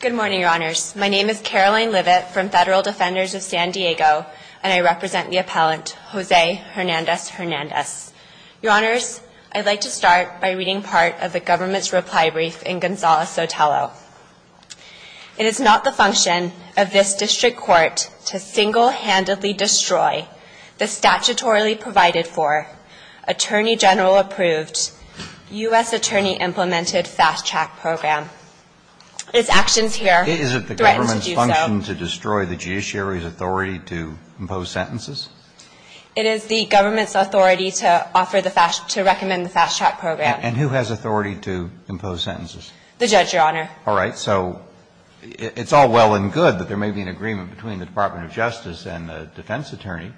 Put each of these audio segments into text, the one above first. Good morning, Your Honors. My name is Caroline Livet from Federal Defenders of San Diego, and I represent the appellant, Jose Hernandez-Hernandez. Your Honors, I'd like to start by reading part of the government's reply brief in Gonzales-Sotelo. It is not the function of this district court to single-handedly destroy the statutorily provided for, attorney general-approved, U.S. attorney-implemented fast-track program. Its actions here threaten to do so. It is the government's function to destroy the judiciary's authority to impose sentences? It is the government's authority to offer the fast – to recommend the fast-track program. And who has authority to impose sentences? The judge, Your Honor. All right. So it's all well and good that there may be an agreement between the Department of Justice and the defense attorney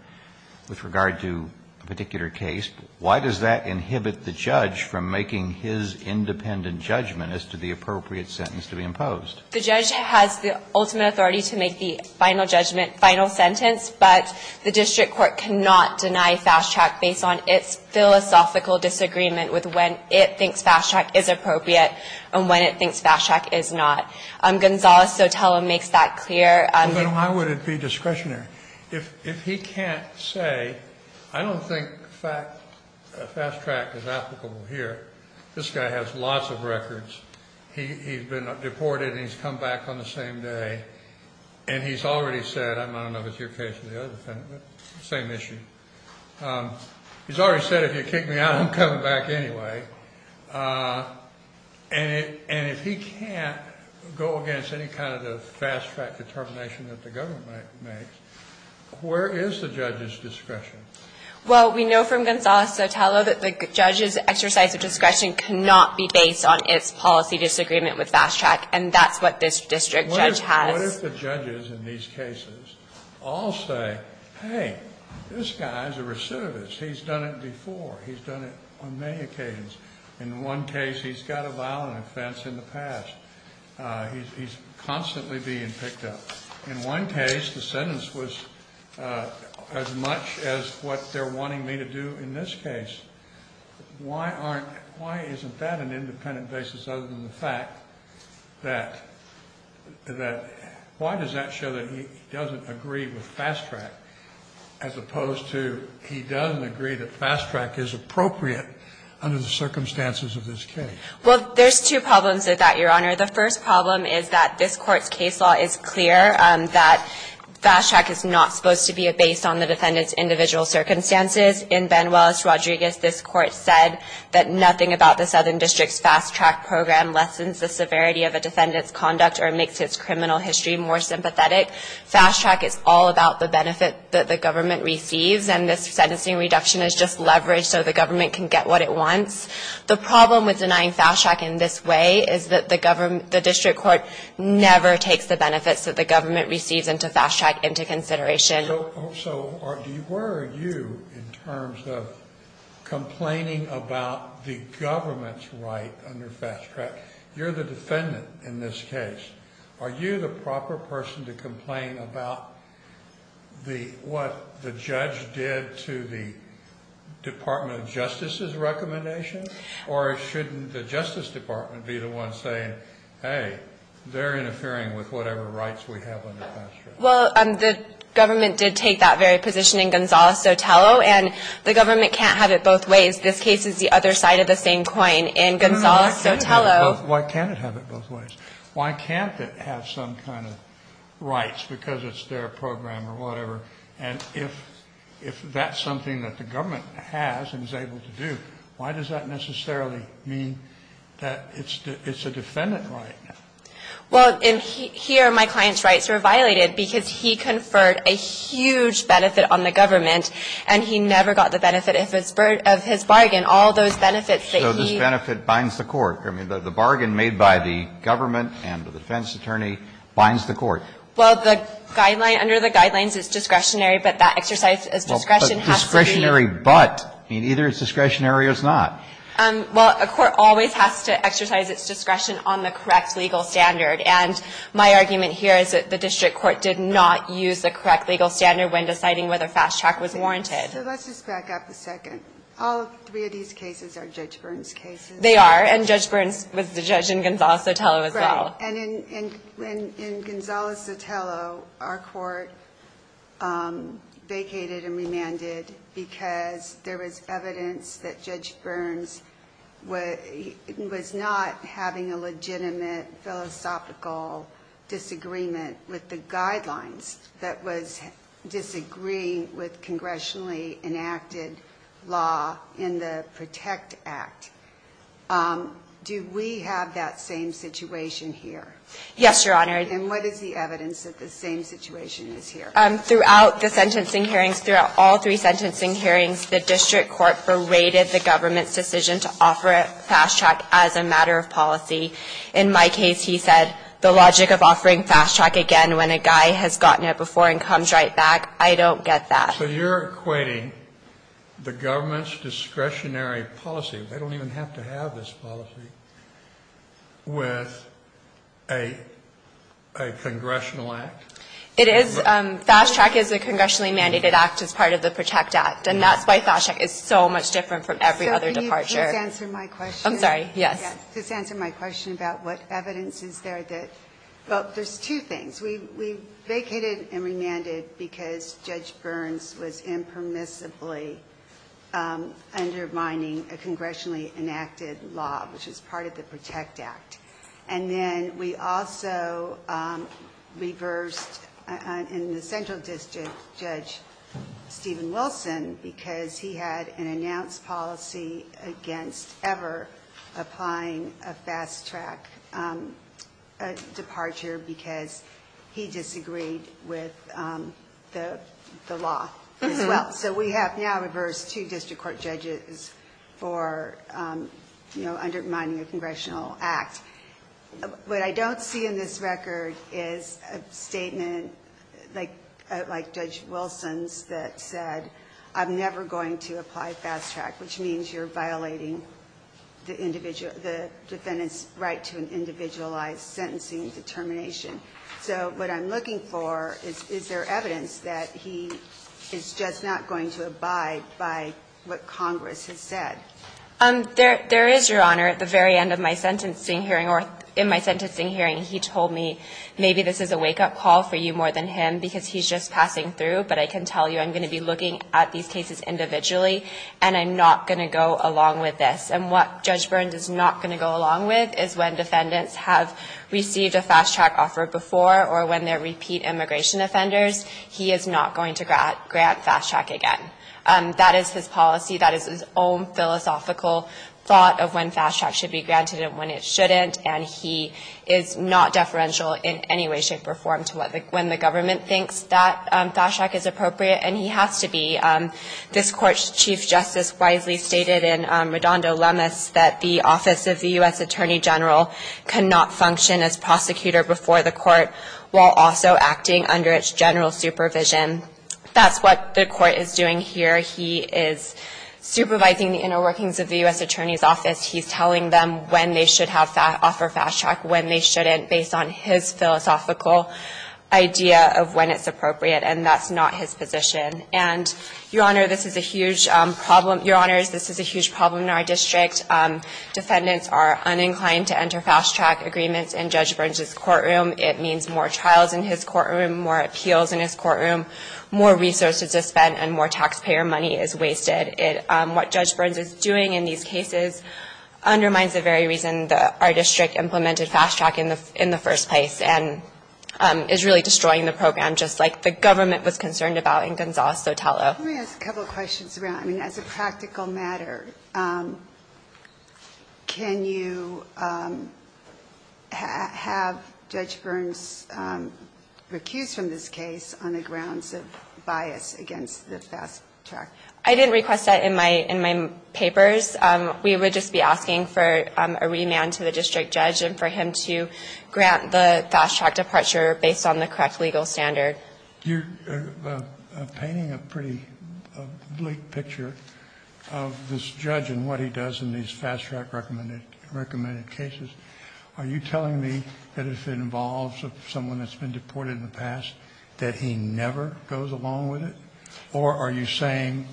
with regard to a particular case. Why does that inhibit the judge from making his independent judgment as to the appropriate sentence to be imposed? The judge has the ultimate authority to make the final judgment, final sentence, but the district court cannot deny fast-track based on its philosophical disagreement with when it thinks fast-track is appropriate and when it thinks fast-track is not. Gonzales-Sotelo makes that clear. Well, then why would it be discretionary? If he can't say, I don't think fast-track is applicable here. This guy has lots of records. He's been deported and he's come back on the same day. And he's already said – I don't know if it's your case or the other defendant, but same issue. He's already said if you kick me out, I'm coming back anyway. And if he can't go against any kind of the fast-track determination that the government makes, where is the judge's discretion? Well, we know from Gonzales-Sotelo that the judge's exercise of discretion cannot be based on its policy disagreement with fast-track, and that's what this district judge has. What if the judges in these cases all say, hey, this guy's a recidivist. He's done it before. He's done it on many occasions. In one case, he's got a violent offense in the past. He's constantly being picked up. In one case, the sentence was as much as what they're wanting me to do in this case. Why aren't – why isn't that an independent basis other than the fact that – that – why does that show that he doesn't agree with fast-track, as opposed to he doesn't agree that fast-track is appropriate under the circumstances of this case? Well, there's two problems with that, Your Honor. The first problem is that this Court's case law is clear, that fast-track is not supposed to be based on the defendant's individual circumstances. In Benuelos-Rodriguez, this Court said that nothing about the Southern District's fast-track program lessens the severity of a defendant's conduct or makes his criminal history more sympathetic. Fast-track is all about the benefit that the government receives, and this sentencing reduction is just leverage so the government can get what it wants. The problem with denying fast-track in this way is that the district court never takes the benefits that the government receives into fast-track into consideration. So where are you in terms of complaining about the government's right under fast-track? You're the defendant in this case. Are you the proper person to complain about the – what the judge did to the Department of Justice's recommendation, or shouldn't the Justice Department be the one saying, hey, they're interfering with whatever rights we have under fast-track? Well, the government did take that very position in Gonzales-Sotelo, and the government can't have it both ways. This case is the other side of the same coin. In Gonzales-Sotelo – Why can't it have it both ways? Why can't it have some kind of rights because it's their program or whatever? And if that's something that the government has and is able to do, why does that necessarily mean that it's a defendant right? Well, in here, my client's rights were violated because he conferred a huge benefit on the government, and he never got the benefit of his bargain, all those benefits that he – So this benefit binds the court. I mean, the bargain made by the government and the defense attorney binds the court. Well, the guideline – under the guidelines, it's discretionary, but that exercise of discretion has to be – But discretionary but. I mean, either it's discretionary or it's not. Well, a court always has to exercise its discretion on the correct legal standard, and my argument here is that the district court did not use the correct legal standard when deciding whether fast track was warranted. So let's just back up a second. All three of these cases are Judge Byrne's cases. They are, and Judge Byrne was the judge in Gonzales-Sotelo as well. Right, and in Gonzales-Sotelo, our court vacated and remanded because there was evidence that Judge Byrne was not having a legitimate philosophical disagreement with the guidelines that was disagreeing with congressionally enacted law in the PROTECT Act. Do we have that same situation here? Yes, Your Honor. And what is the evidence that the same situation is here? Throughout the sentencing hearings, throughout all three sentencing hearings, the district court berated the government's decision to offer fast track as a matter of policy. In my case, he said the logic of offering fast track again when a guy has gotten it before and comes right back. I don't get that. So you're equating the government's discretionary policy, they don't even have to have this policy, with a congressional act? It is. Fast track is a congressionally mandated act as part of the PROTECT Act, and that's why fast track is so much different from every other departure. So can you please answer my question? I'm sorry, yes. Yes, just answer my question about what evidence is there that – well, there's two things. We vacated and remanded because Judge Byrne was impermissibly undermining a congressionally enacted law, which is part of the PROTECT Act. And then we also reversed, in the Central District, Judge Stephen Wilson because he had an announced policy against ever applying a fast track departure because he disagreed with the law as well. So we have now reversed two district court judges for undermining a congressional act. What I don't see in this record is a statement like Judge Wilson's that said, I'm never going to apply fast track, which means you're violating the defendant's right to an individualized sentencing determination. So what I'm looking for is, is there evidence that he is just not going to abide by what Congress has said? There is, Your Honor. At the very end of my sentencing hearing or in my sentencing hearing, he told me, maybe this is a wake-up call for you more than him because he's just passing through, but I can tell you I'm going to be looking at these cases individually and I'm not going to go along with this. And what Judge Byrne is not going to go along with is when defendants have received a fast track offer before or when they're repeat immigration offenders, he is not going to grant fast track again. That is his policy. That is his own philosophical thought of when fast track should be granted and when it shouldn't. And he is not deferential in any way, shape, or form to when the government thinks that fast track is appropriate. And he has to be. This Court's Chief Justice wisely stated in Redondo Lemus that the office of the prosecutor before the court while also acting under its general supervision. That's what the court is doing here. He is supervising the inner workings of the U.S. Attorney's Office. He's telling them when they should offer fast track, when they shouldn't based on his philosophical idea of when it's appropriate. And that's not his position. And, Your Honor, this is a huge problem. Your Honors, this is a huge problem in our district. Defendants are uninclined to enter fast track agreements in Judge Burns' courtroom. It means more trials in his courtroom, more appeals in his courtroom, more resources are spent, and more taxpayer money is wasted. What Judge Burns is doing in these cases undermines the very reason that our district implemented fast track in the first place and is really destroying the program just like the government was concerned about in Gonzales-Sotelo. Let me ask a couple of questions around... I mean, as a practical matter, can you have Judge Burns recused from this case on the grounds of bias against the fast track? I didn't request that in my papers. We would just be asking for a remand to the district judge and for him to grant the fast track departure based on the correct legal standard. You're painting a pretty bleak picture of this judge and what he does in these fast track recommended cases. Are you telling me that if it involves someone that's been deported in the past that he never goes along with it? Or are you saying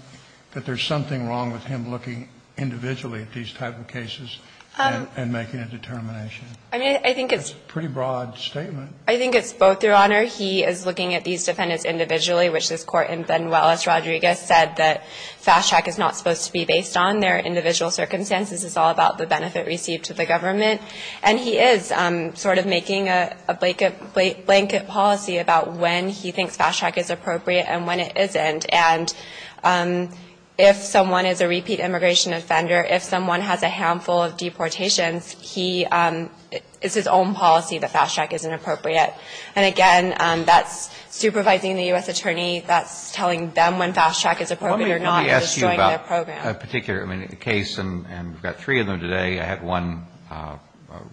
that there's something wrong with him looking individually at these type of cases and making a determination? That's a pretty broad statement. I think it's both, Your Honor. He is looking at these defendants individually, which this court in Benuelos, Rodriguez, said that fast track is not supposed to be based on. They're individual circumstances. It's all about the benefit received to the government. And he is sort of making a blanket policy about when he thinks fast track is appropriate and when it isn't. And if someone is a repeat immigration offender, if someone has a handful of deportations, it's his own policy that fast track isn't appropriate. And again, that's supervising the U.S. attorney. That's telling them when fast track is appropriate or not. It's destroying their program. Let me ask you about a particular case, and we've got three of them today. I had one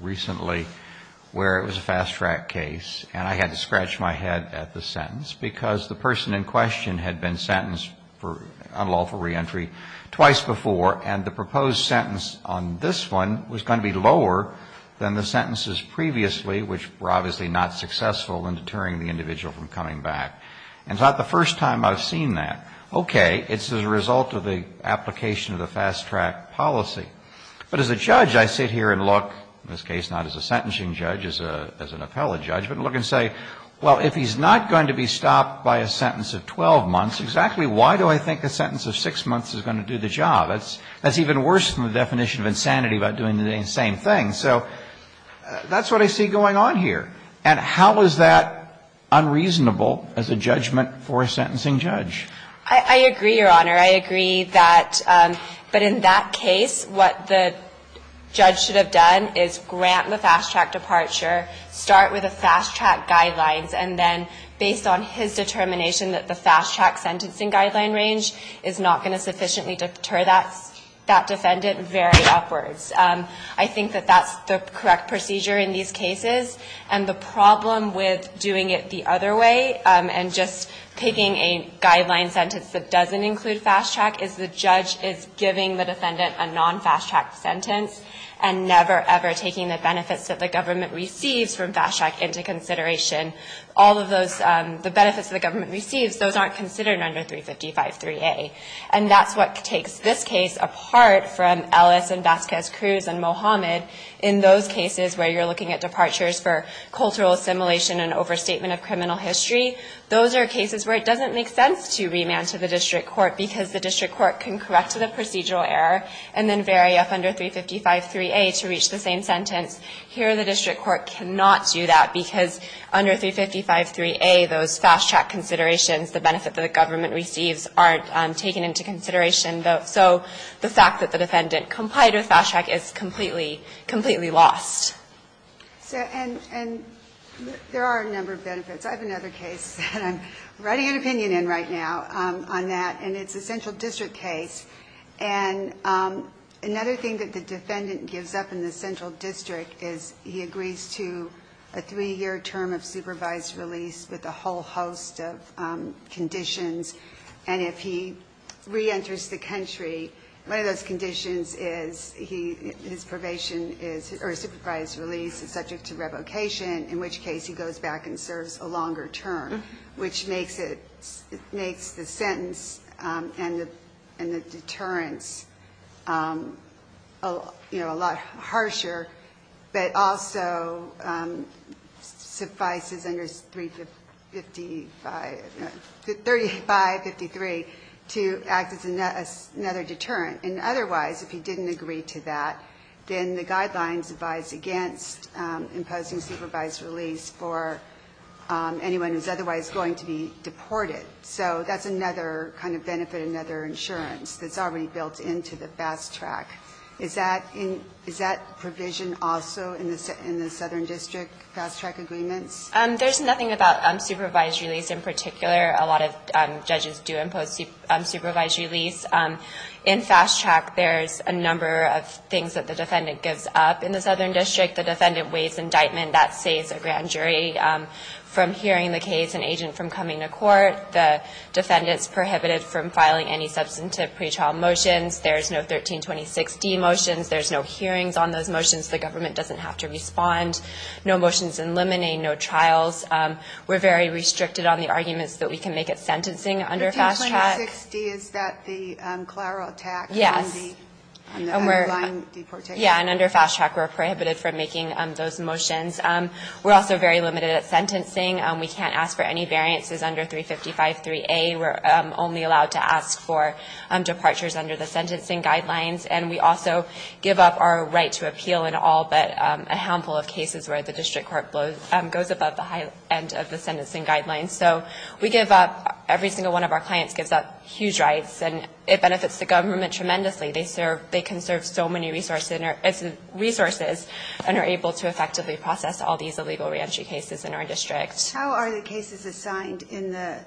recently where it was a fast track case. And I had to scratch my head at the sentence because the person in question had been sentenced for unlawful reentry twice before, and the proposed sentence on this one was going to be lower than the sentences previously, which were obviously not successful in deterring the individual from coming back. And it's not the first time I've seen that. Okay. It's as a result of the application of the fast track policy. But as a judge, I sit here and look, in this case, not as a sentencing judge, as an appellate judge, but look and say, well, if he's not going to be stopped by a sentence of 12 months, exactly why do I think a sentence of six months is going to do the job? That's even worse than the definition of insanity about doing the same thing. And so that's what I see going on here. And how is that unreasonable as a judgment for a sentencing judge? I agree, Your Honor. I agree that, but in that case, what the judge should have done is grant the fast track departure, start with the fast track guidelines, and then based on his determination that the fast track sentencing guideline range is not going to sufficiently deter that defendant, very upwards. I think that that's the correct procedure in these cases. And the problem with doing it the other way and just picking a guideline sentence that doesn't include fast track is the judge is giving the defendant a non-fast track sentence and never, ever taking the benefits that the government receives from fast track into consideration. All of those, the benefits the government receives, those aren't considered under 355-3A. And that's what takes this case apart from Ellis and Vasquez-Cruz and Mohamed in those cases where you're looking at departures for cultural assimilation and overstatement of criminal history. Those are cases where it doesn't make sense to remand to the district court because the district court can correct the procedural error and then vary up under 355-3A to reach the same sentence. Here the district court cannot do that because under 355-3A, those fast track considerations, the benefit that the government receives, aren't taken into consideration. So the fact that the defendant complied with fast track is completely, completely lost. And there are a number of benefits. I have another case that I'm writing an opinion in right now on that. And it's a central district case. And another thing that the defendant gives up in the central district is he agrees to a three-year term of supervised release with a whole host of conditions. And if he reenters the country, one of those conditions is his probation is or supervised release is subject to revocation, in which case he goes back and serves a longer term, which makes the sentence and the deterrence, you know, a lot harsher. But also suffices under 3553 to act as another deterrent. And otherwise, if he didn't agree to that, then the guidelines advise against imposing supervised release for anyone who's otherwise going to be deported. So that's another kind of benefit, another insurance that's already built into the fast track. Is that provision also in the southern district fast track agreements? There's nothing about supervised release in particular. A lot of judges do impose supervised release. In fast track, there's a number of things that the defendant gives up in the southern district. The defendant waives indictment. That saves a grand jury from hearing the case, an agent from coming to court. The defendant's prohibited from filing any substantive pretrial motions. There's no 1326D motions. There's no hearings on those motions. The government doesn't have to respond. No motions in limine, no trials. We're very restricted on the arguments that we can make at sentencing under fast track. 1326D, is that the Clara attack? Yes. On the underlying deportation? Yeah. And under fast track, we're prohibited from making those motions. We're also very limited at sentencing. We can't ask for any variances under 3553A. We're only allowed to ask for departures under the sentencing guidelines. And we also give up our right to appeal in all but a handful of cases where the district court goes above the high end of the sentencing guidelines. So we give up, every single one of our clients gives up huge rights. And it benefits the government tremendously. They can serve so many resources and are able to effectively process all these illegal reentry cases in our district. How are the cases assigned in the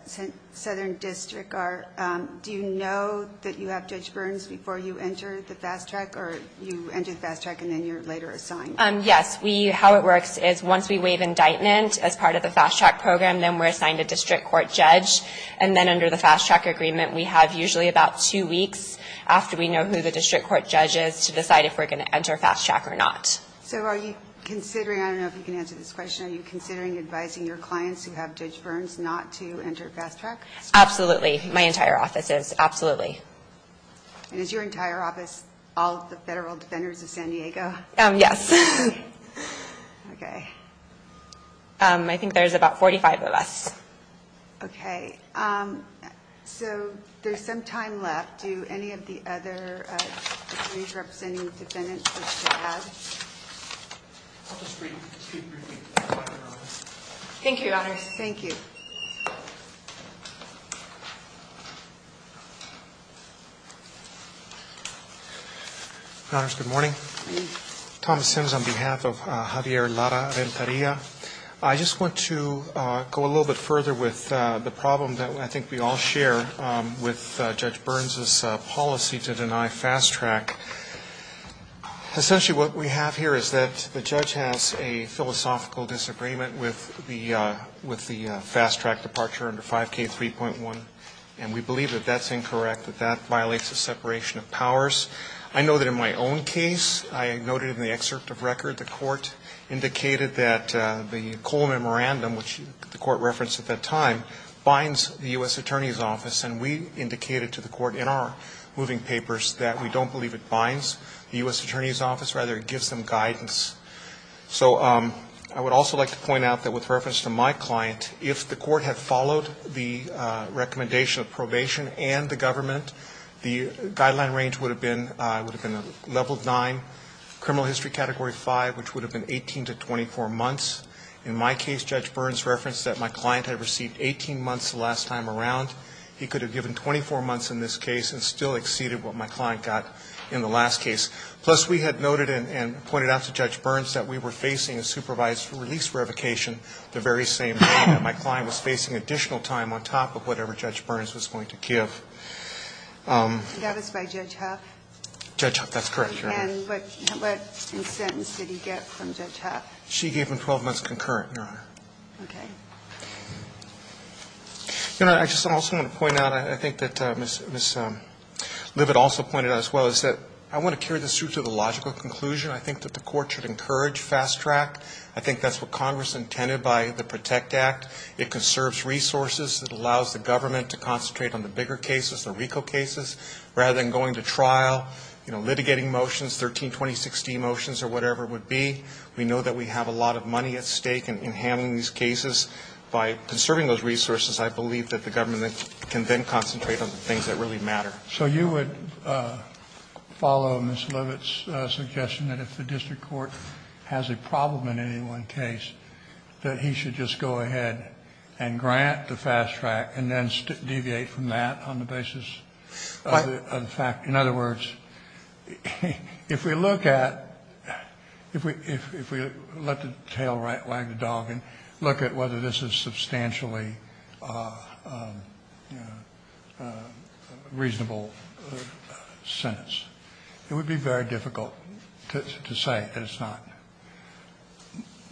southern district? Do you know that you have Judge Burns before you enter the fast track, or you enter the fast track and then you're later assigned? Yes. How it works is once we waive indictment as part of the fast track program, then we're assigned a district court judge. And then under the fast track agreement, we have usually about two weeks after we know who the district court judge is to decide if we're going to enter fast track or not. So are you considering, I don't know if you can answer this question, are you asking clients who have Judge Burns not to enter fast track? Absolutely. My entire office is. Absolutely. And is your entire office all of the federal defenders of San Diego? Yes. Okay. I think there's about 45 of us. Okay. So there's some time left. Do any of the other attorneys representing defendants wish to add? I'll just brief you. Thank you, Your Honors. Thank you. Your Honors, good morning. Good morning. Thomas Sims on behalf of Javier Lara Ventaria. I just want to go a little bit further with the problem that I think we all share with Judge Burns' policy to deny fast track. Essentially what we have here is that the judge has a philosophical disagreement with the fast track departure under 5K3.1, and we believe that that's incorrect, that that violates the separation of powers. I know that in my own case, I noted in the excerpt of record, the court indicated that the Cole Memorandum, which the court referenced at that time, binds the U.S. Attorney's Office, and we indicated to the court in our moving papers that we don't believe it binds the U.S. Attorney's Office. Rather, it gives them guidance. So I would also like to point out that with reference to my client, if the court had followed the recommendation of probation and the government, the guideline range would have been level nine, criminal history category five, which would have been 18 to 24 months. In my case, Judge Burns referenced that my client had received 18 months the last time around. He could have given 24 months in this case and still exceeded what my client got in the last case. Plus, we had noted and pointed out to Judge Burns that we were facing a supervised release revocation the very same day, that my client was facing additional time on top of whatever Judge Burns was going to give. That was by Judge Huff? Judge Huff. That's correct, Your Honor. And what incentive did he get from Judge Huff? She gave him 12 months concurrent, Your Honor. Okay. Your Honor, I just also want to point out, I think that Ms. Livid also pointed out as well, is that I want to carry this through to the logical conclusion. I think that the court should encourage fast track. I think that's what Congress intended by the PROTECT Act. It conserves resources. It allows the government to concentrate on the bigger cases, the RICO cases, rather than going to trial, you know, litigating motions, 1320-16 motions or whatever it would be. We know that we have a lot of money at stake in handling these cases. By conserving those resources, I believe that the government can then concentrate on the things that really matter. So you would follow Ms. Livid's suggestion that if the district court has a problem in any one case, that he should just go ahead and grant the fast track and then deviate from that on the basis of the fact? In other words, if we look at, if we let the tail wag the dog and look at whether this is substantially reasonable sentence, it would be very difficult to say that it's not.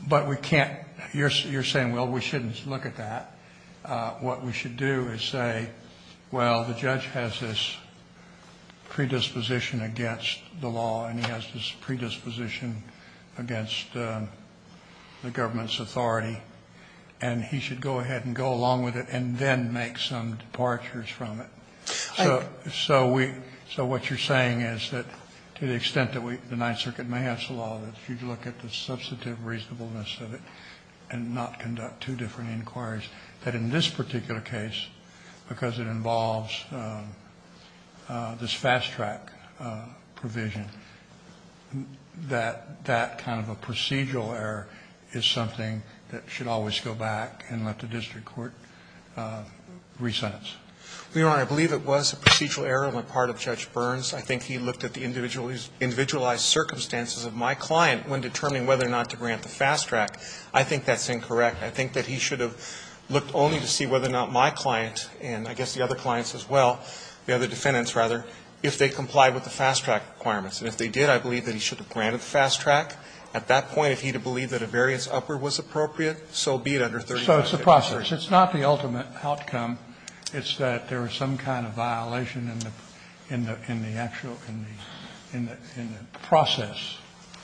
But we can't, you're saying, well, we shouldn't look at that. What we should do is say, well, the judge has this predisposition against the law and he has this predisposition against the government's authority, and he should go ahead and go along with it and then make some departures from it. So we, so what you're saying is that to the extent that we, the Ninth Circuit may have some law, that if you look at the substantive reasonableness of it and not conduct two different inquiries, that in this particular case, because it involves this fast track provision, that that kind of a procedural error is something that should always go back and let the district court re-sentence? Leon, I believe it was a procedural error on the part of Judge Burns. I think he looked at the individualized circumstances of my client when determining whether or not to grant the fast track. I think that's incorrect. I think that he should have looked only to see whether or not my client, and I guess the other clients as well, the other defendants rather, if they complied with the fast track requirements. And if they did, I believe that he should have granted the fast track. At that point, if he had believed that a variance upward was appropriate, so be it under 35-50. So it's a process. It's not the ultimate outcome. It's that there is some kind of violation in the actual, in the process.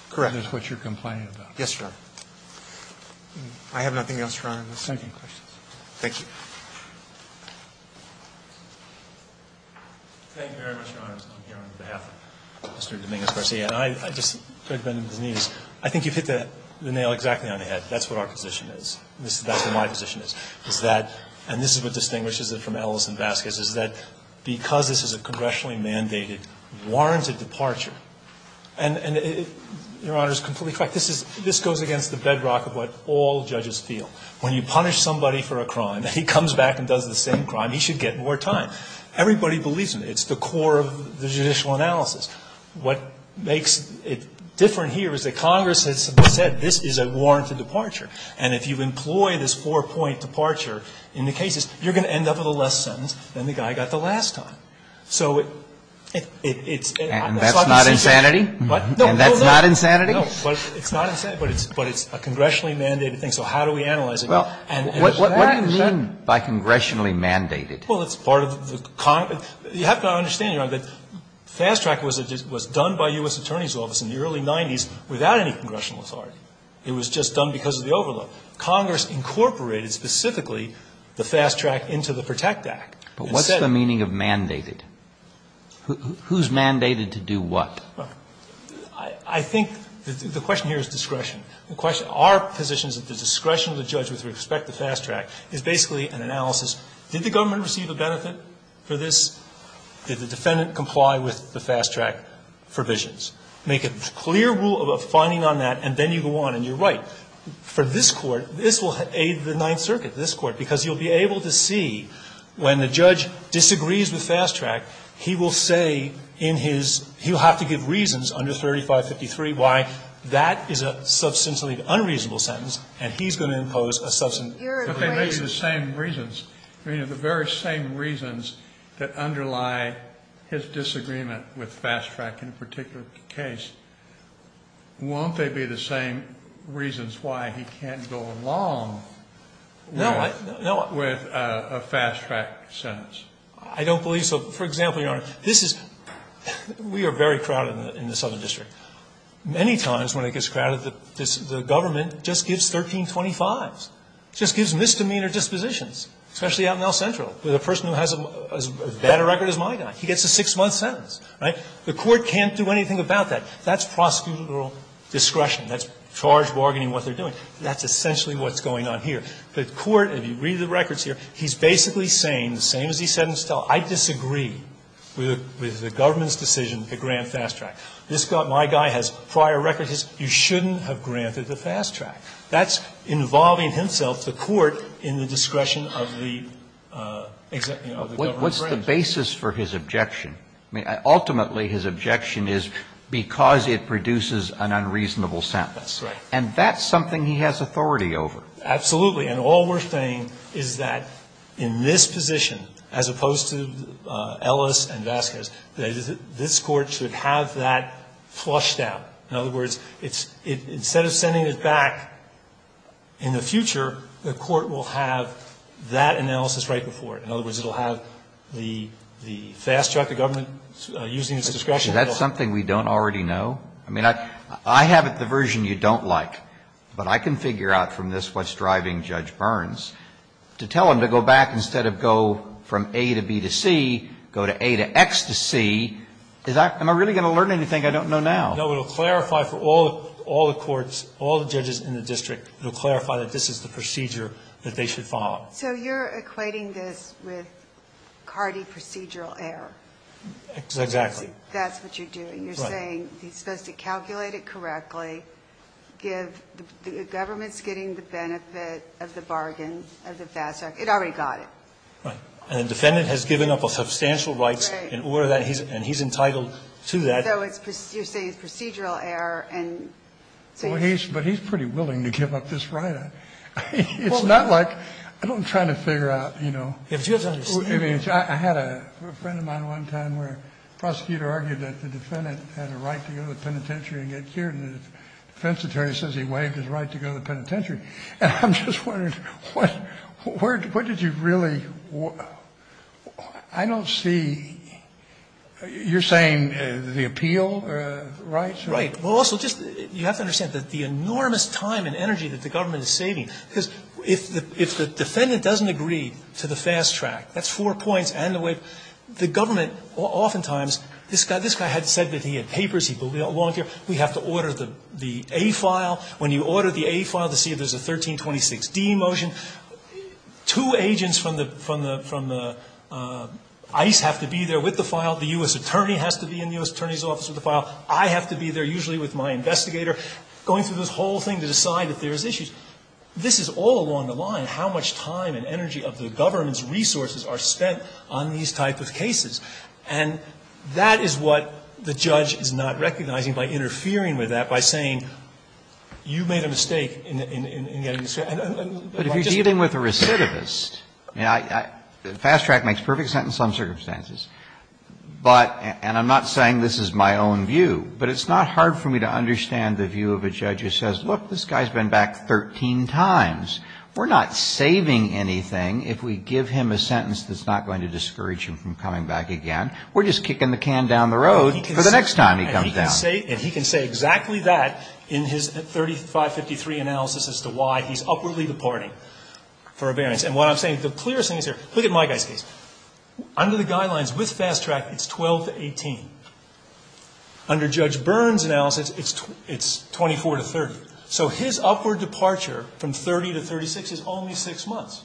Correct. That is what you're complaining about. Yes, Your Honor. I have nothing else, Your Honor. Thank you. Thank you. Thank you very much, Your Honors. I'm here on behalf of Mr. Dominguez-Garcia. And I just, I think you've hit the nail exactly on the head. That's what our position is. That's what my position is, is that, and this is what distinguishes it from Ellis and Vasquez, is that because this is a congressionally mandated, warranted departure, and Your Honor is completely correct. This goes against the bedrock of what all judges feel. When you punish somebody for a crime, and he comes back and does the same crime, he should get more time. Everybody believes in it. It's the core of the judicial analysis. What makes it different here is that Congress has said this is a warranted departure. And if you employ this four-point departure in the cases, you're going to end up with a less sentence than the guy got the last time. So it's not the subject's decision. And that's not insanity? No, no, no. And that's not insanity? But it's not insanity. But it's a congressionally mandated thing. So how do we analyze it? Well, what do you mean by congressionally mandated? Well, it's part of the Congress. You have to understand, Your Honor, that fast track was done by U.S. Attorney's Office in the early 90s without any congressional authority. It was just done because of the overload. Congress incorporated specifically the fast track into the PROTECT Act. But what's the meaning of mandated? Who's mandated to do what? I think the question here is discretion. Our position is that the discretion of the judge with respect to fast track is basically an analysis, did the government receive a benefit for this? Did the defendant comply with the fast track provisions? Make a clear rule of finding on that, and then you go on. And you're right. For this Court, this will aid the Ninth Circuit, this Court, because you'll be able to see when the judge disagrees with fast track, he will say in his – he'll have to give reasons under 3553 why that is a substantially unreasonable sentence, and he's going to impose a substantive reason. But they may be the same reasons. I mean, the very same reasons that underlie his disagreement with fast track in a particular case, won't they be the same reasons why he can't go along with a fast track sentence? I don't believe so. For example, Your Honor, this is – we are very crowded in the Southern District. Many times when it gets crowded, the government just gives 1325s, just gives misdemeanor dispositions, especially out in El Centro with a person who has as bad a record as my guy. He gets a 6-month sentence, right? The Court can't do anything about that. That's prosecutorial discretion. That's charge bargaining what they're doing. That's essentially what's going on here. The Court, if you read the records here, he's basically saying, the same as he said in West El, I disagree with the government's decision to grant fast track. This guy, my guy, has prior records. You shouldn't have granted the fast track. That's involving himself, the Court, in the discretion of the government. What's the basis for his objection? Ultimately, his objection is because it produces an unreasonable sentence. That's right. And that's something he has authority over. Absolutely. And all we're saying is that in this position, as opposed to Ellis and Vasquez, this Court should have that flushed out. In other words, instead of sending it back in the future, the Court will have that analysis right before it. In other words, it will have the fast track, the government using its discretion. Is that something we don't already know? I mean, I have it the version you don't like, but I can figure out from this what's driving Judge Burns. To tell him to go back instead of go from A to B to C, go to A to X to C, am I really going to learn anything I don't know now? No. It will clarify for all the courts, all the judges in the district, it will clarify that this is the procedure that they should follow. So you're equating this with cardi-procedural error. Exactly. That's what you're doing. You're saying he's supposed to calculate it correctly, give the government's discretion to get the benefit of the bargain, of the fast track. It already got it. Right. And the defendant has given up a substantial right in order that he's entitled to that. So you're saying it's procedural error and so he's. But he's pretty willing to give up this right. It's not like, I'm trying to figure out, you know. I had a friend of mine one time where the prosecutor argued that the defendant had a right to go to the penitentiary and get cured. And the defense attorney says he waived his right to go to the penitentiary. And I'm just wondering, what did you really. I don't see. You're saying the appeal rights. Right. Well, also, just you have to understand that the enormous time and energy that the government is saving. Because if the defendant doesn't agree to the fast track, that's four points. And the way the government oftentimes, this guy had said that he had papers he believed in, he had a long career, we have to order the A file. When you order the A file to see if there's a 1326D motion, two agents from the ICE have to be there with the file. The U.S. attorney has to be in the U.S. attorney's office with the file. I have to be there usually with my investigator going through this whole thing to decide if there is issues. This is all along the line how much time and energy of the government's resources are spent on these type of cases. And that is what the judge is not recognizing by interfering with that, by saying you made a mistake in getting this case. But if you're dealing with a recidivist, I mean, fast track makes perfect sense in some circumstances. But, and I'm not saying this is my own view, but it's not hard for me to understand the view of a judge who says, look, this guy's been back 13 times. We're not saving anything if we give him a sentence that's not going to discourage him from coming back again. We're just kicking the can down the road for the next time he comes down. And he can say exactly that in his 3553 analysis as to why he's upwardly departing for abearance. And what I'm saying, the clearest thing is here, look at my guy's case. Under the guidelines with fast track, it's 12 to 18. Under Judge Byrne's analysis, it's 24 to 30. So his upward departure from 30 to 36 is only six months.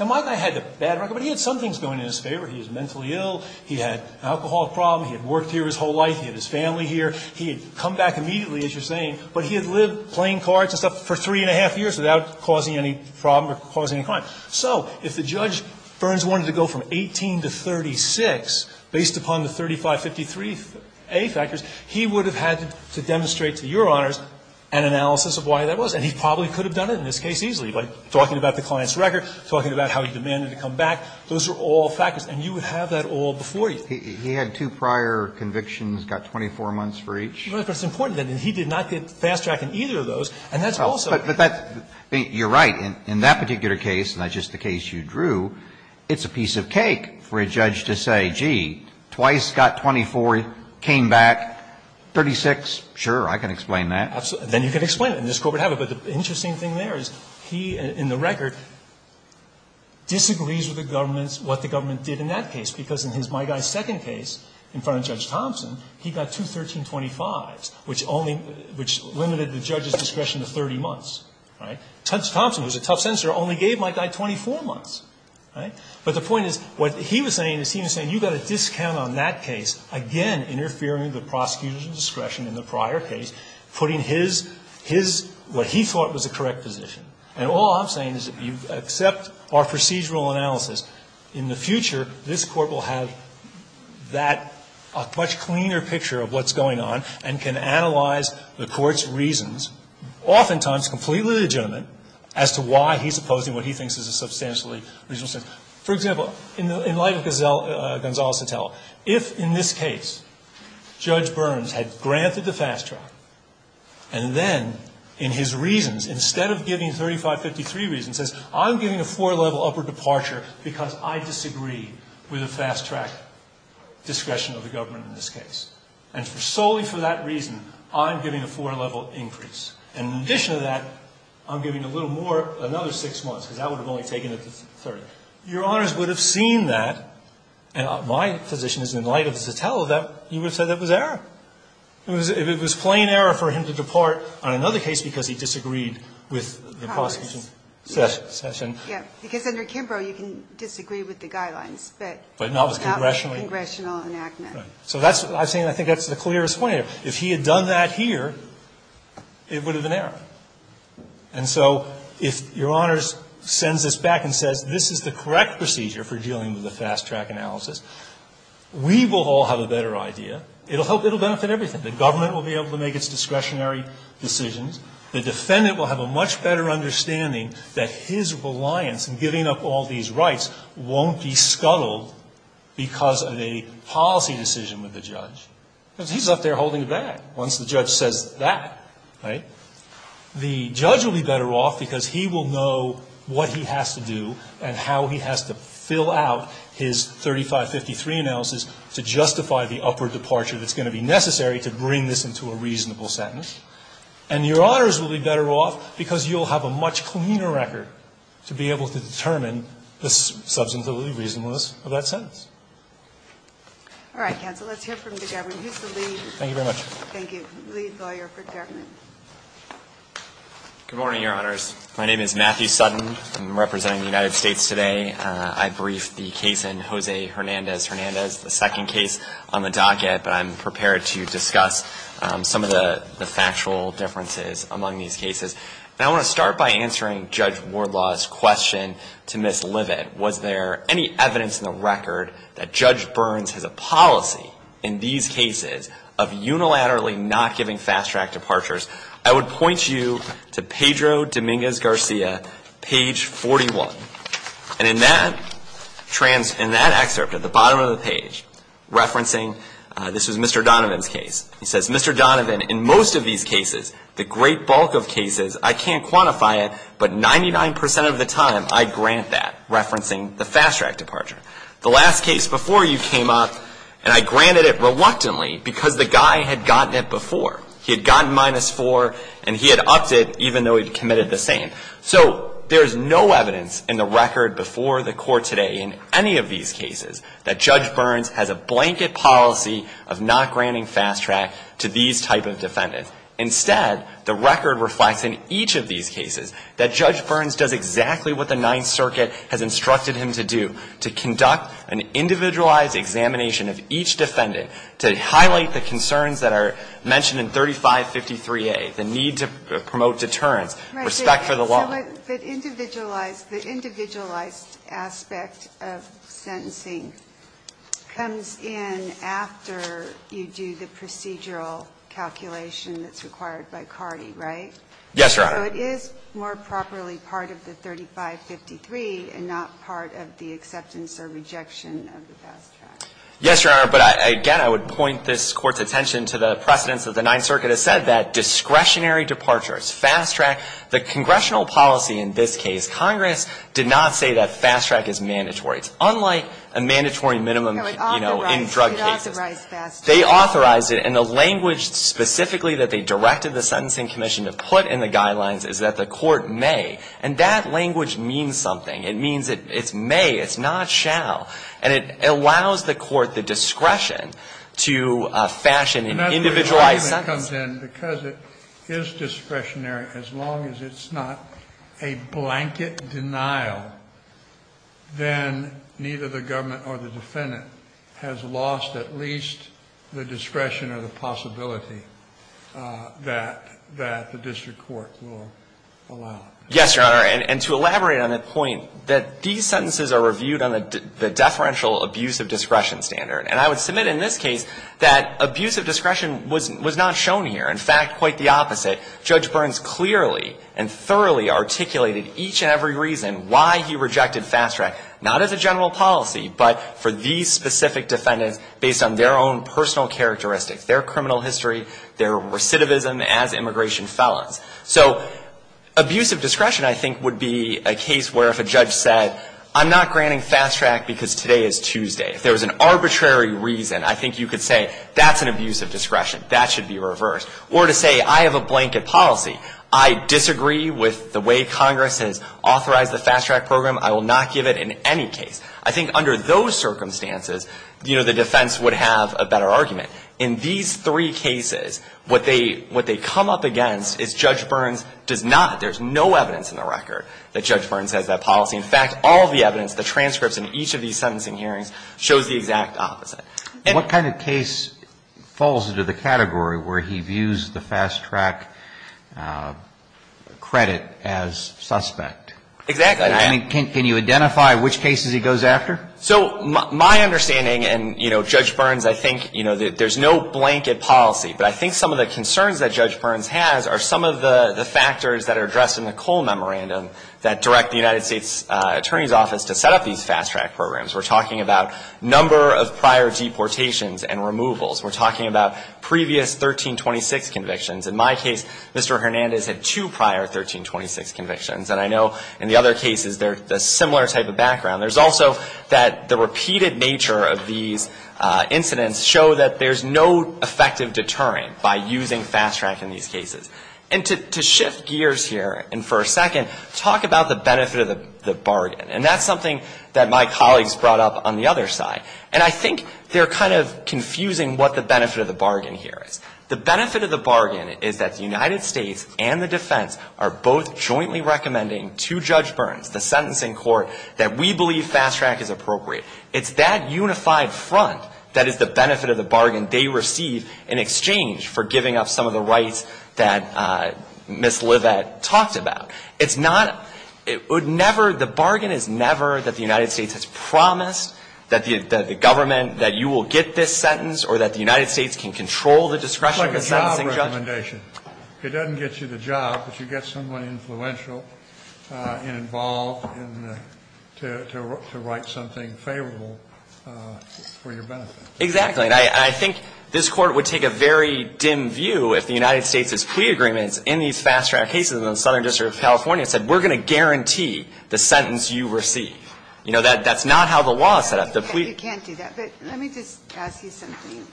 Now, my guy had a bad record, but he had some things going in his favor. He was mentally ill. He had an alcohol problem. He had worked here his whole life. He had his family here. He had come back immediately, as you're saying, but he had lived playing cards and stuff for three and a half years without causing any problem or causing a crime. So if the judge Byrne's wanted to go from 18 to 36 based upon the 3553A factors, he would have had to demonstrate to Your Honors an analysis of why that was. And he probably could have done it in this case easily by talking about the client's record, talking about how he demanded to come back. Those are all factors. And you would have that all before you. He had two prior convictions, got 24 months for each. Right. But it's important that he did not get fast track in either of those. And that's also the case. You're right. In that particular case, not just the case you drew, it's a piece of cake for a judge to say, gee, twice, got 24, came back 36. Sure, I can explain that. Then you can explain it. And this Court would have it. But the interesting thing there is he, in the record, disagrees with the government, what the government did in that case. Because in my guy's second case in front of Judge Thompson, he got two 1325s, which limited the judge's discretion to 30 months. Right. Judge Thompson, who's a tough censor, only gave my guy 24 months. Right. But the point is, what he was saying is he was saying you got a discount on that case, again interfering with the prosecutor's discretion in the prior case, putting his, his, what he thought was the correct position. And all I'm saying is if you accept our procedural analysis, in the future, this Court will have that, a much cleaner picture of what's going on and can analyze the Court's reasons, oftentimes completely legitimate, as to why he's opposing what he thinks is a substantially reasonable sentence. For example, in light of Gonzalo Sotelo, if in this case Judge Burns had granted the fast track, and then in his reasons, instead of giving 3553 reasons, says I'm giving a four-level upper departure because I disagree with the fast track discretion of the government in this case. And solely for that reason, I'm giving a four-level increase. And in addition to that, I'm giving a little more, another six months, because that would have only taken it to 30. Your Honors would have seen that, and my position is in light of Sotelo, that you would have said that was error. It was plain error for him to depart on another case because he disagreed with the prosecution session. Yes. Because under Kimbrough, you can disagree with the guidelines, but not with the congressional enactment. Right. So that's what I'm saying. I think that's the clearest way. If he had done that here, it would have been error. And so if Your Honors sends this back and says this is the correct procedure for dealing with the fast track analysis, we will all have a better idea. It will benefit everything. The government will be able to make its discretionary decisions. The defendant will have a much better understanding that his reliance in giving up all these rights won't be scuttled because of a policy decision with the judge. Because he's up there holding a bag once the judge says that. Right. The judge will be better off because he will know what he has to do and how he has to fill out his 3553 analysis to justify the upper departure that's going to be necessary to bring this into a reasonable sentence. And Your Honors will be better off because you'll have a much cleaner record to be able to determine the substantively reasonableness of that sentence. All right, counsel. Let's hear from the government. Who's the lead? Thank you very much. Thank you. Lead lawyer for government. Good morning, Your Honors. My name is Matthew Sutton. I'm representing the United States today. I briefed the case in Jose Hernandez-Hernandez, the second case on the docket. But I'm prepared to discuss some of the factual differences among these cases. And I want to start by answering Judge Wardlaw's question to Ms. Livett. Was there any evidence in the record that Judge Burns has a policy in these cases of unilaterally not giving fast track departures? I would point you to Pedro Dominguez Garcia, page 41. And in that excerpt at the bottom of the page, referencing, this was Mr. Donovan's case, he says, Mr. Donovan, in most of these cases, the great bulk of cases, I can't quantify it, but 99% of the time I grant that, referencing the fast track departure. The last case before you came up, and I granted it reluctantly because the guy had gotten it before. He had gotten minus 4, and he had upped it even though he'd committed the same. So there is no evidence in the record before the Court today in any of these cases that Judge Burns has a blanket policy of not granting fast track to these type of defendants. Instead, the record reflects in each of these cases that Judge Burns does exactly what the Ninth Circuit has instructed him to do, to conduct an individualized examination of each defendant, to highlight the concerns that are mentioned in 3553A, the need to promote deterrence, respect for the law. Ginsburg. Right. But individualized, the individualized aspect of sentencing comes in after you do the procedural calculation that's required by CARDI, right? Yes, Your Honor. So it is more properly part of the 3553 and not part of the acceptance or rejection of the fast track. Yes, Your Honor. But again, I would point this Court's attention to the precedence that the Ninth Congress did not say that fast track is mandatory. It's unlike a mandatory minimum, you know, in drug cases. It authorized fast track. They authorized it. And the language specifically that they directed the Sentencing Commission to put in the guidelines is that the Court may. And that language means something. It means it's may, it's not shall. And it allows the Court the discretion to fashion an individualized sentence. And that comes in because it is discretionary as long as it's not a blanket denial, then neither the government or the defendant has lost at least the discretion or the possibility that the district court will allow. Yes, Your Honor. And to elaborate on that point, that these sentences are reviewed on the deferential abuse of discretion standard. And I would submit in this case that abuse of discretion was not shown here. In fact, quite the opposite. Judge Burns clearly and thoroughly articulated each and every reason why he rejected fast track, not as a general policy, but for these specific defendants based on their own personal characteristics, their criminal history, their recidivism as immigration felons. So abuse of discretion, I think, would be a case where if a judge said, I'm not granting fast track because today is Tuesday. If there was an arbitrary reason, I think you could say, that's an abuse of discretion. That should be reversed. Or to say, I have a blanket policy. I disagree with the way Congress has authorized the fast track program. I will not give it in any case. I think under those circumstances, you know, the defense would have a better argument. In these three cases, what they come up against is Judge Burns does not, there's no evidence in the record that Judge Burns has that policy. In fact, all of the evidence, the transcripts in each of these sentencing hearings shows the exact opposite. And what kind of case falls into the category where he views the fast track credit as suspect? Exactly. I mean, can you identify which cases he goes after? So my understanding, and, you know, Judge Burns, I think, you know, there's no blanket policy. But I think some of the concerns that Judge Burns has are some of the factors that are addressed in the Cole Memorandum that direct the United States Attorney's Office to set up these fast track programs. We're talking about number of prior deportations and removals. We're talking about previous 1326 convictions. In my case, Mr. Hernandez had two prior 1326 convictions. And I know in the other cases, they're a similar type of background. There's also that the repeated nature of these incidents show that there's no effective deterrent by using fast track in these cases. And to shift gears here and for a second, talk about the benefit of the bargain. And that's something that my colleagues brought up on the other side. And I think they're kind of confusing what the benefit of the bargain here is. The benefit of the bargain is that the United States and the defense are both jointly recommending to Judge Burns, the sentencing court, that we believe fast track is appropriate. It's that unified front that is the benefit of the bargain they receive in exchange for giving up some of the rights that Ms. Leavitt talked about. It's not, it would never, the bargain is never that the United States has promised that the government, that you will get this sentence or that the United States can control the discretion of the sentencing judge. It's like a job recommendation. It doesn't get you the job, but you get someone influential and involved to write something favorable for your benefit. Exactly. And I think this court would take a very dim view if the United States' plea agreement in these fast track cases in the Southern District of California said we're going to guarantee the sentence you receive. You know, that's not how the law is set up. You can't do that. But let me just ask you something.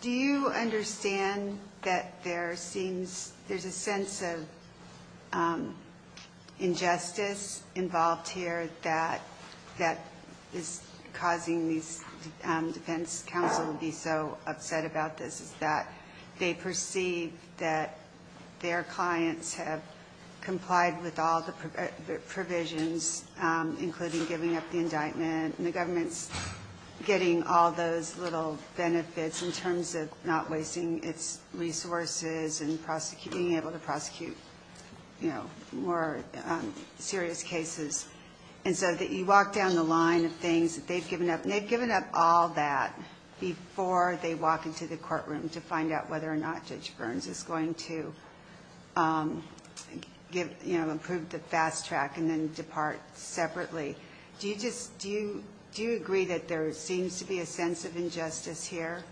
Do you understand that there seems, there's a sense of injustice involved here that is causing these defense counsel to be so upset about this? Is that they perceive that their clients have complied with all the provisions, including giving up the indictment, and the government's getting all those little benefits in terms of not wasting its resources and being able to prosecute, you know, more serious cases. And so you walk down the line of things that they've given up, and they've given up all that before they walk into the courtroom to find out whether or not Judge Burns is going to, you know, approve the fast track and then depart separately. Do you agree that there seems to be a sense of injustice here?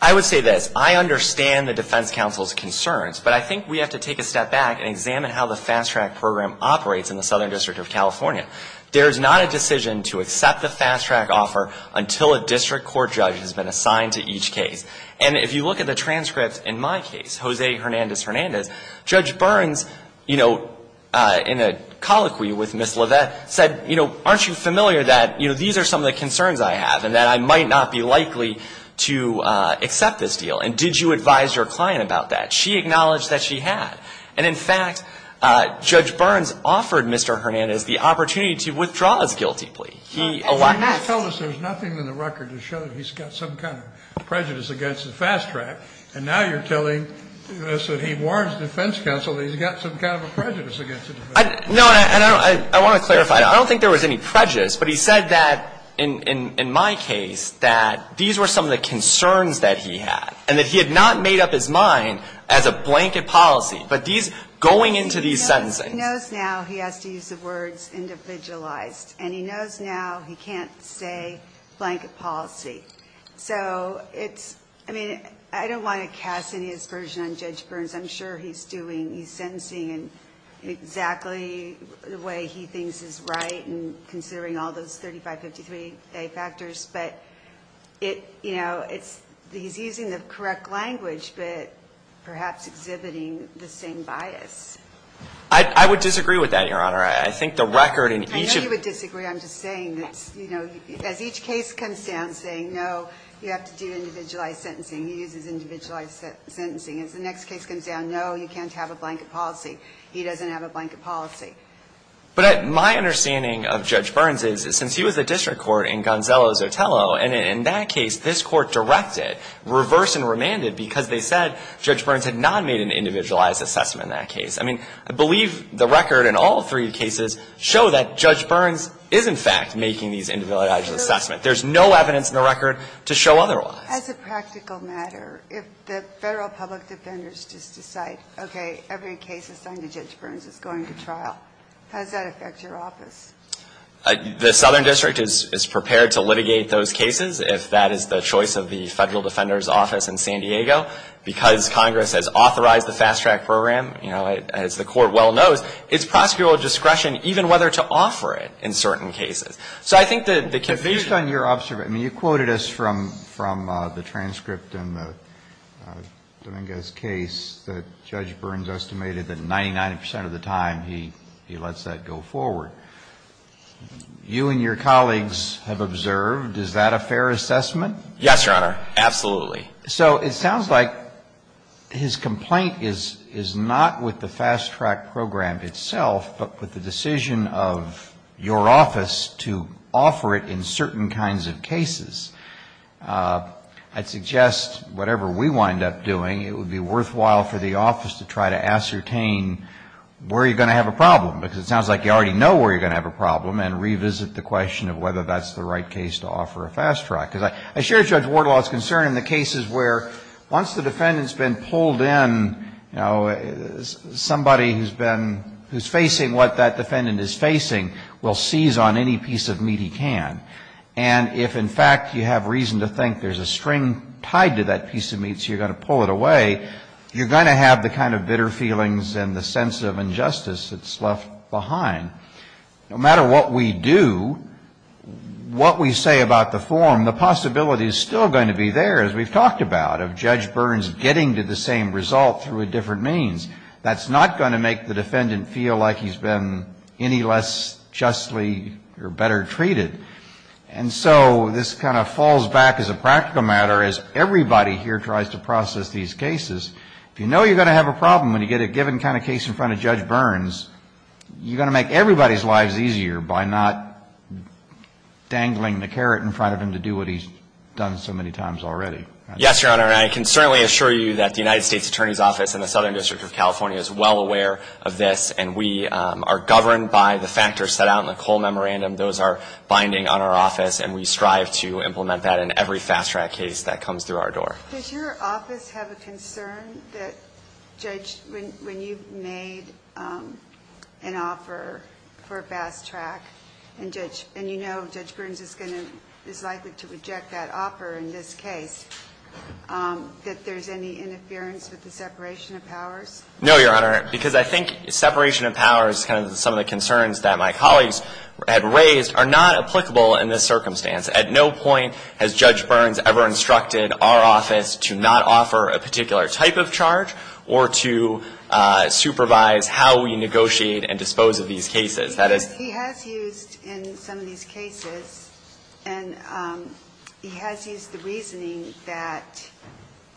I would say this. I understand the defense counsel's concerns, but I think we have to take a step back and examine how the fast track program operates in the Southern District of California. There is not a decision to accept the fast track offer until a district court judge has been assigned to each case. And if you look at the transcripts in my case, Jose Hernandez-Hernandez, Judge Burns, you know, in a colloquy with Ms. LaVette said, you know, aren't you familiar that, you know, these are some of the concerns I have, and that I might not be likely to accept this deal. And did you advise your client about that? She acknowledged that she had. And in fact, Judge Burns offered Mr. Hernandez the opportunity to withdraw his guilty plea. He allowed that. And you tell us there's nothing in the record to show that he's got some kind of prejudice against the fast track. And now you're telling us that he warns defense counsel that he's got some kind of a prejudice against the defense counsel. No, and I want to clarify. I don't think there was any prejudice, but he said that in my case, that these were some of the concerns that he had, and that he had not made up his mind as a blanket policy. But these, going into these sentencing. He knows now he has to use the words individualized. And he knows now he can't say blanket policy. So it's, I mean, I don't want to cast any aspersion on Judge Burns. I'm sure he's doing, he's sentencing in exactly the way he thinks is right, and considering all those 3553A factors. But it, you know, it's, he's using the correct language, but perhaps exhibiting the same bias. I would disagree with that, Your Honor. I think the record in each of. I know you would disagree. I'm just saying that, you know, as each case comes down saying, no, you have to do individualized sentencing. He uses individualized sentencing. As the next case comes down, no, you can't have a blanket policy. He doesn't have a blanket policy. But my understanding of Judge Burns is, since he was the district court in Gonzalo Zotello, and in that case, this court directed reverse and remanded because they said Judge Burns had not made an individualized assessment in that case. I mean, I believe the record in all three cases show that Judge Burns is, in fact, making these individualized assessments. There's no evidence in the record to show otherwise. As a practical matter, if the Federal public defenders just decide, okay, every case assigned to Judge Burns is going to trial, how does that affect your office? The Southern District is prepared to litigate those cases, if that is the choice of the Federal Defender's Office in San Diego. Because Congress has authorized the fast track program, you know, as the court well knows, it's prosecutorial discretion, even whether to offer it in certain cases. So I think the confusion Based on your observation, you quoted us from the transcript in the Dominguez case that Judge Burns estimated that 99% of the time he lets that go forward. You and your colleagues have observed, is that a fair assessment? Yes, Your Honor. Absolutely. So it sounds like his complaint is not with the fast track program itself, but with the decision of your office to offer it in certain kinds of cases. I'd suggest whatever we wind up doing, it would be worthwhile for the office to try to ascertain where you're going to have a problem. Because it sounds like you already know where you're going to have a problem and revisit the question of whether that's the right case to offer a fast track. Because I share Judge Wardlaw's concern in the cases where once the defendant has been pulled in, you know, somebody who's been, who's facing what that defendant is facing will seize on any piece of meat he can. And if in fact you have reason to think there's a string tied to that piece of meat so you're going to pull it away, you're going to have the kind of bitter feelings and the sense of injustice that's left behind. No matter what we do, what we say about the form, the possibility is still going to be there, as we've talked about, of Judge Burns getting to the same result through a different means. That's not going to make the defendant feel like he's been any less justly or better treated. And so this kind of falls back as a practical matter, as everybody here tries to process these cases. If you know you're going to have a problem when you get a given kind of case in front of Judge Burns, you're going to make everybody's lives easier by not dangling the carrot in front of him to do what he's done so many times already. Yes, Your Honor. And I can certainly assure you that the United States Attorney's Office and the Southern District of California is well aware of this. And we are governed by the factors set out in the Cole Memorandum. Those are binding on our office. And we strive to implement that in every fast track case that comes through our door. Does your office have a concern that when you've made an offer for a fast track and you know Judge Burns is likely to reject that offer in this case, that there's any interference with the separation of powers? No, Your Honor, because I think separation of powers, kind of some of the concerns that my colleagues had raised, are not applicable in this circumstance. At no point has Judge Burns ever instructed our office to not offer a particular type of charge or to supervise how we negotiate and dispose of these cases. He has used in some of these cases, and he has used the reasoning that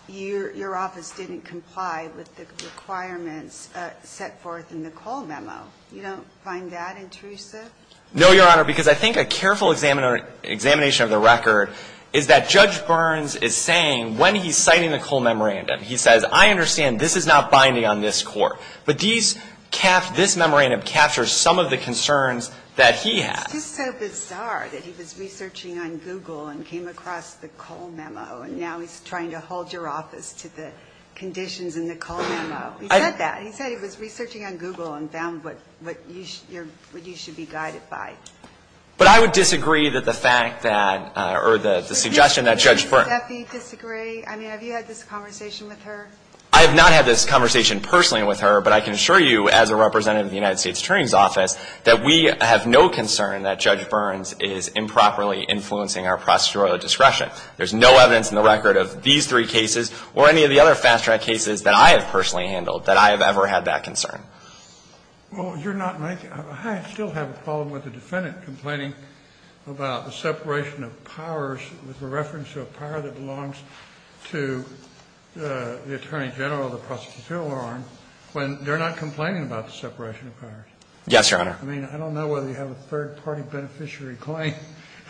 your office didn't comply with the requirements set forth in the Cole Memo. You don't find that intrusive? No, Your Honor, because I think a careful examination of the record is that Judge Burns is saying, when he's citing the Cole Memorandum, he says, I understand this is not binding on this court. But this memorandum captures some of the concerns that he has. It's just so bizarre that he was researching on Google and came across the Cole Memo, and now he's trying to hold your office to the conditions in the Cole Memo. He said that. But I would disagree that the fact that, or the suggestion that Judge Burns. Would you disagree? I mean, have you had this conversation with her? I have not had this conversation personally with her, but I can assure you as a representative of the United States Attorney's Office that we have no concern that Judge Burns is improperly influencing our procedural discretion. There's no evidence in the record of these three cases or any of the other fast track cases that I have personally handled that I have ever had that concern. Well, you're not making. I still have a problem with the defendant complaining about the separation of powers with the reference to a power that belongs to the Attorney General of the prosecutorial arm when they're not complaining about the separation of powers. Yes, Your Honor. I mean, I don't know whether you have a third party beneficiary claim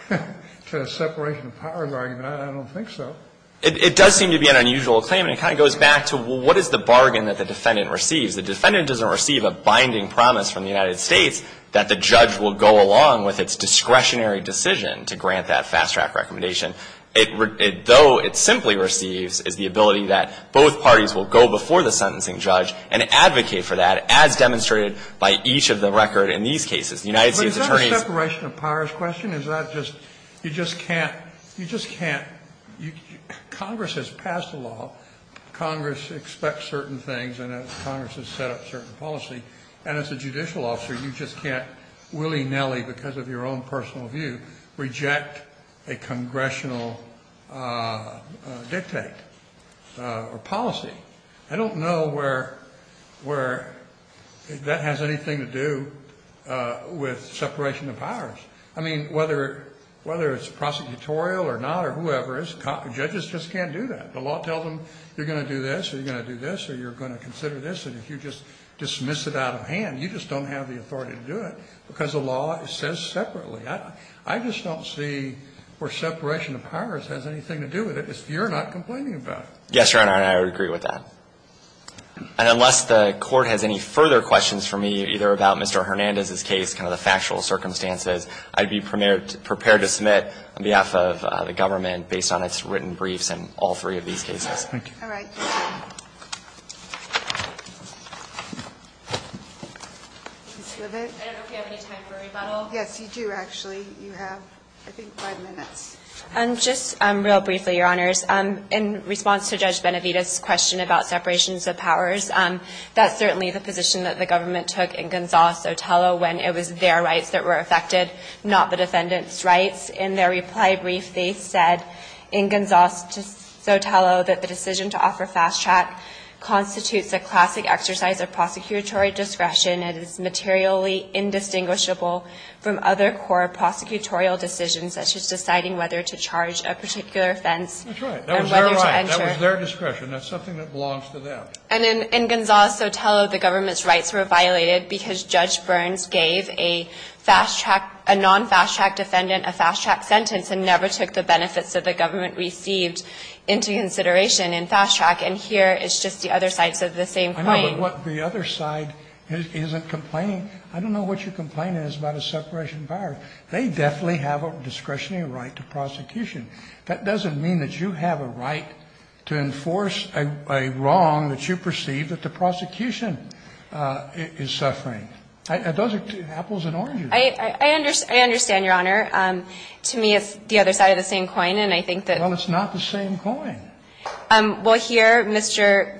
to a separation of powers argument. I don't think so. It does seem to be an unusual claim, and it kind of goes back to, well, what is the bargain that the defendant receives? The defendant doesn't receive a binding promise from the United States that the judge will go along with its discretionary decision to grant that fast track recommendation. It, though it simply receives, is the ability that both parties will go before the sentencing judge and advocate for that as demonstrated by each of the record in these cases. The United States Attorney's. But is that a separation of powers question? Is that just, you just can't, you just can't. Congress has passed a law. Congress expects certain things, and Congress has set up certain policy. And as a judicial officer, you just can't willy-nilly, because of your own personal view, reject a congressional dictate or policy. I don't know where that has anything to do with separation of powers. I mean, whether it's prosecutorial or not or whoever, judges just can't do that. The law tells them you're going to do this or you're going to do this or you're going to consider this. And if you just dismiss it out of hand, you just don't have the authority to do it because the law says separately. I just don't see where separation of powers has anything to do with it if you're not complaining about it. Yes, Your Honor, and I would agree with that. And unless the Court has any further questions for me, either about Mr. Hernandez's case, kind of the factual circumstances, I'd be prepared to submit on behalf of the Court for these cases. Thank you. All right. Ms. Lovett? I don't know if we have any time for rebuttal. Yes, you do, actually. You have, I think, five minutes. Just real briefly, Your Honors. In response to Judge Benavides' question about separations of powers, that's certainly the position that the government took in Gonzales-Otello when it was their rights that were affected, not the defendant's rights. In their reply brief, they said in Gonzales-Otello that the decision to offer fast track constitutes a classic exercise of prosecutory discretion and is materially indistinguishable from other core prosecutorial decisions, such as deciding whether to charge a particular offense or whether to enter. That's right. That was their right. That was their discretion. That's something that belongs to them. And in Gonzales-Otello, the government's rights were violated because Judge Burns gave a fast track, a non-fast track defendant a fast track sentence and never took the benefits that the government received into consideration in fast track. And here, it's just the other side says the same thing. I know, but what the other side isn't complaining, I don't know what you're complaining is about a separation of powers. They definitely have a discretionary right to prosecution. That doesn't mean that you have a right to enforce a wrong that you perceive that the prosecution is suffering. Those are apples and oranges. I understand, Your Honor. To me, it's the other side of the same coin, and I think that. Well, it's not the same coin. Well, here, Mr.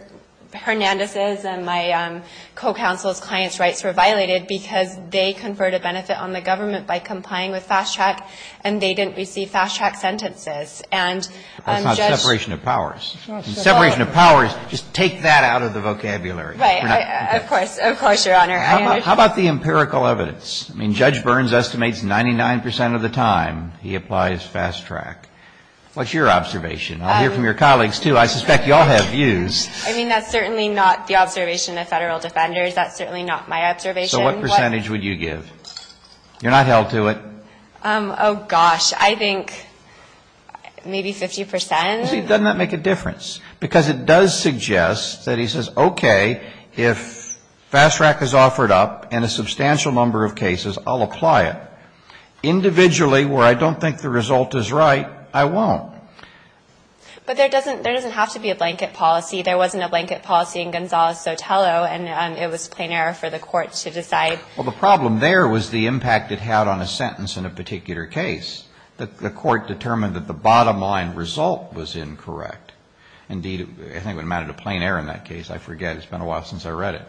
Hernandez's and my co-counsel's client's rights were violated because they conferred a benefit on the government by complying with fast track and they didn't receive fast track sentences. And Judge. That's not separation of powers. Separation of powers, just take that out of the vocabulary. Right. Of course. Of course, Your Honor. How about the empirical evidence? I mean, Judge Burns estimates 99% of the time he applies fast track. What's your observation? I'll hear from your colleagues, too. I suspect you all have views. I mean, that's certainly not the observation of federal defenders. That's certainly not my observation. So what percentage would you give? You're not held to it. Oh, gosh. I think maybe 50%. See, doesn't that make a difference? Because it does suggest that he says, okay, if fast track is offered up in a substantial number of cases, I'll apply it. Individually, where I don't think the result is right, I won't. But there doesn't have to be a blanket policy. There wasn't a blanket policy in Gonzales-Sotelo, and it was plain error for the court to decide. Well, the problem there was the impact it had on a sentence in a particular The court determined that the bottom line result was incorrect. Indeed, I think it amounted to plain error in that case. I forget. It's been a while since I read it.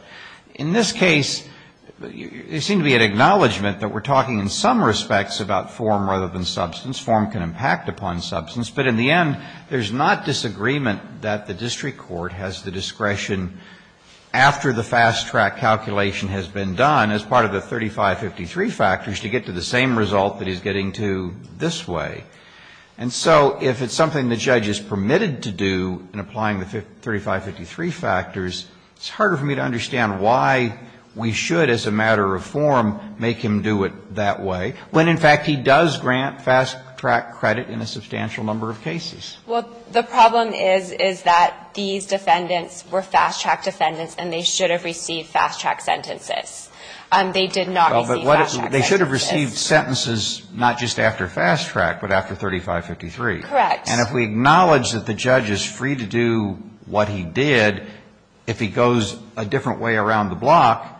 In this case, it seemed to be an acknowledgment that we're talking in some respects about form rather than substance. Form can impact upon substance. But in the end, there's not disagreement that the district court has the discretion after the fast track calculation has been done as part of the 3553 factors to get to the same result that he's getting to this way. And so if it's something the judge is permitted to do in applying the 3553 factors, it's harder for me to understand why we should, as a matter of form, make him do it that way when, in fact, he does grant fast track credit in a substantial number of cases. Well, the problem is, is that these defendants were fast track defendants, and they should have received fast track sentences. They did not receive fast track sentences. They should have received sentences not just after fast track, but after 3553. Correct. And if we acknowledge that the judge is free to do what he did, if he goes a different way around the block,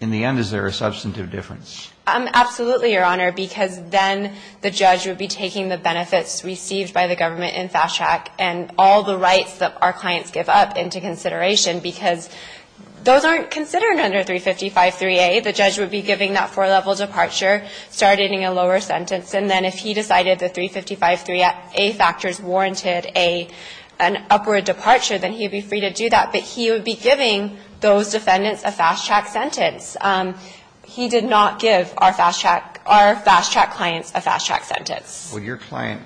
in the end, is there a substantive difference? Absolutely, Your Honor, because then the judge would be taking the benefits received by the government in fast track and all the rights that our clients give up into consideration, because those aren't considered under 3553A. The judge would be giving that four-level departure, starting in a lower sentence, and then if he decided the 3553A factors warranted an upward departure, then he would be free to do that. But he would be giving those defendants a fast track sentence. He did not give our fast track clients a fast track sentence. So your client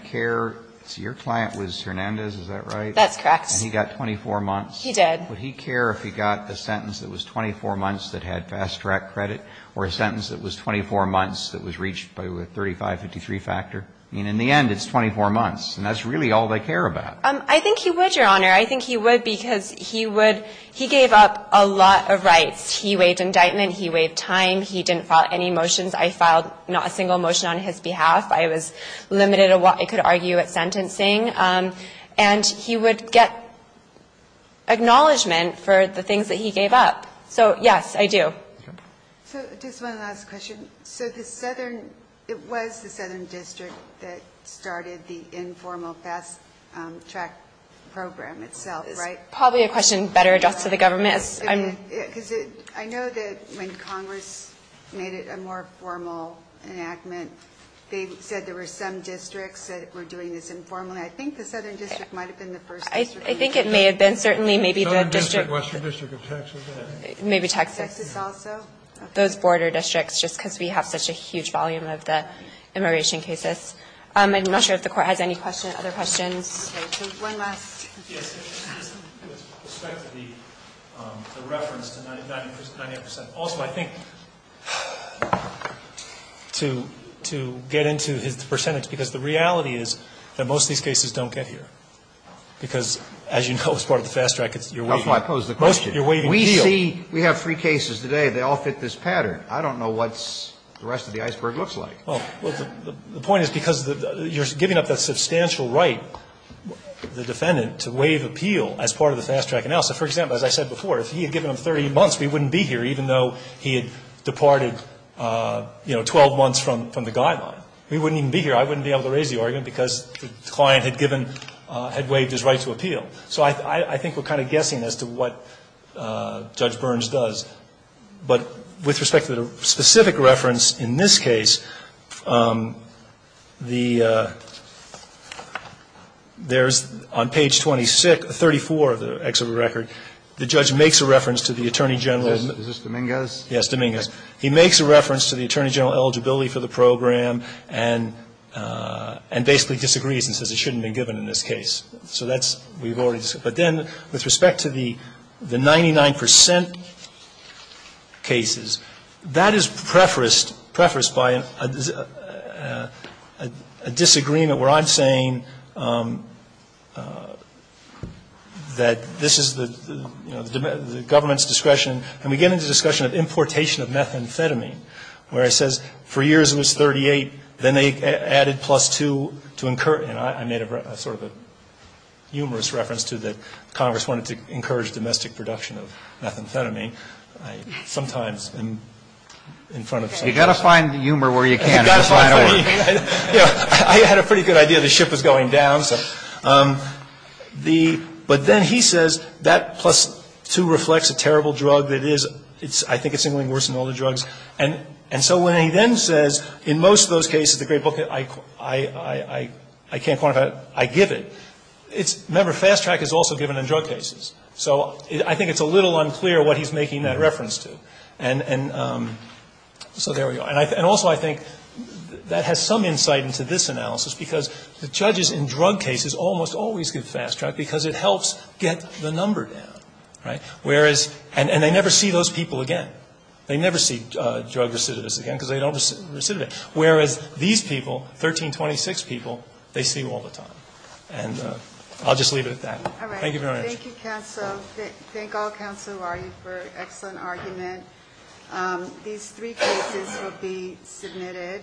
was Hernandez, is that right? That's correct. And he got 24 months? He did. Would he care if he got a sentence that was 24 months that had fast track credit or a sentence that was 24 months that was reached by the 3553 factor? I mean, in the end, it's 24 months, and that's really all they care about. I think he would, Your Honor. I think he would because he would he gave up a lot of rights. He waived indictment. He waived time. He didn't file any motions. I filed not a single motion on his behalf. I was limited in what I could argue at sentencing. And he would get acknowledgment for the things that he gave up. So, yes, I do. So just one last question. So it was the Southern District that started the informal fast track program itself, right? It's probably a question better addressed to the government. Because I know that when Congress made it a more formal enactment, they said there were some districts that were doing this informally. I think the Southern District might have been the first district. I think it may have been. Certainly, maybe the district. Southern District, Western District of Texas. Maybe Texas. Texas also. Those border districts, just because we have such a huge volume of the immigration cases. I'm not sure if the Court has any other questions. One last. Yes. With respect to the reference to 99 percent. Also, I think to get into his percentage, because the reality is that most of these cases don't get here. Because, as you know, as part of the fast track, it's your waiving. That's why I posed the question. You're waiving the deal. We see, we have three cases today. They all fit this pattern. I don't know what the rest of the iceberg looks like. Well, the point is because you're giving up that substantial right, the defendant, to waive appeal as part of the fast track analysis. For example, as I said before, if he had given them 30 months, we wouldn't be here, even though he had departed, you know, 12 months from the guideline. We wouldn't even be here. I wouldn't be able to raise the argument because the client had given, had waived his right to appeal. So I think we're kind of guessing as to what Judge Burns does. But with respect to the specific reference in this case, the, there's on page 26, 34 of the exhibit record, the judge makes a reference to the Attorney General. Is this Dominguez? Yes, Dominguez. He makes a reference to the Attorney General eligibility for the program and basically disagrees and says it shouldn't have been given in this case. So that's, we've already discussed. But then with respect to the 99 percent cases, that is prefaced, prefaced by a disagreement where I'm saying that this is the, you know, the government's discretion. And we get into the discussion of importation of methamphetamine, where it says for years it was 38, then they added plus 2 to incur. And I made a sort of a humorous reference to that Congress wanted to encourage domestic production of methamphetamine. Sometimes in front of. You've got to find humor where you can. I had a pretty good idea the ship was going down. But then he says that plus 2 reflects a terrible drug that is, I think it's even worse than all the drugs. And so when he then says in most of those cases, the great book, I can't quantify it, I give it. Remember, fast track is also given in drug cases. So I think it's a little unclear what he's making that reference to. And so there we are. And also I think that has some insight into this analysis because the judges in drug cases almost always give fast track because it helps get the number down. Right? Whereas, and they never see those people again. They never see drug recidivists again because they don't recidivate. Whereas these people, 1326 people, they see all the time. And I'll just leave it at that. Thank you for your attention. All right. Thank you, counsel. Thank all counsel for an excellent argument. These three cases will be submitted.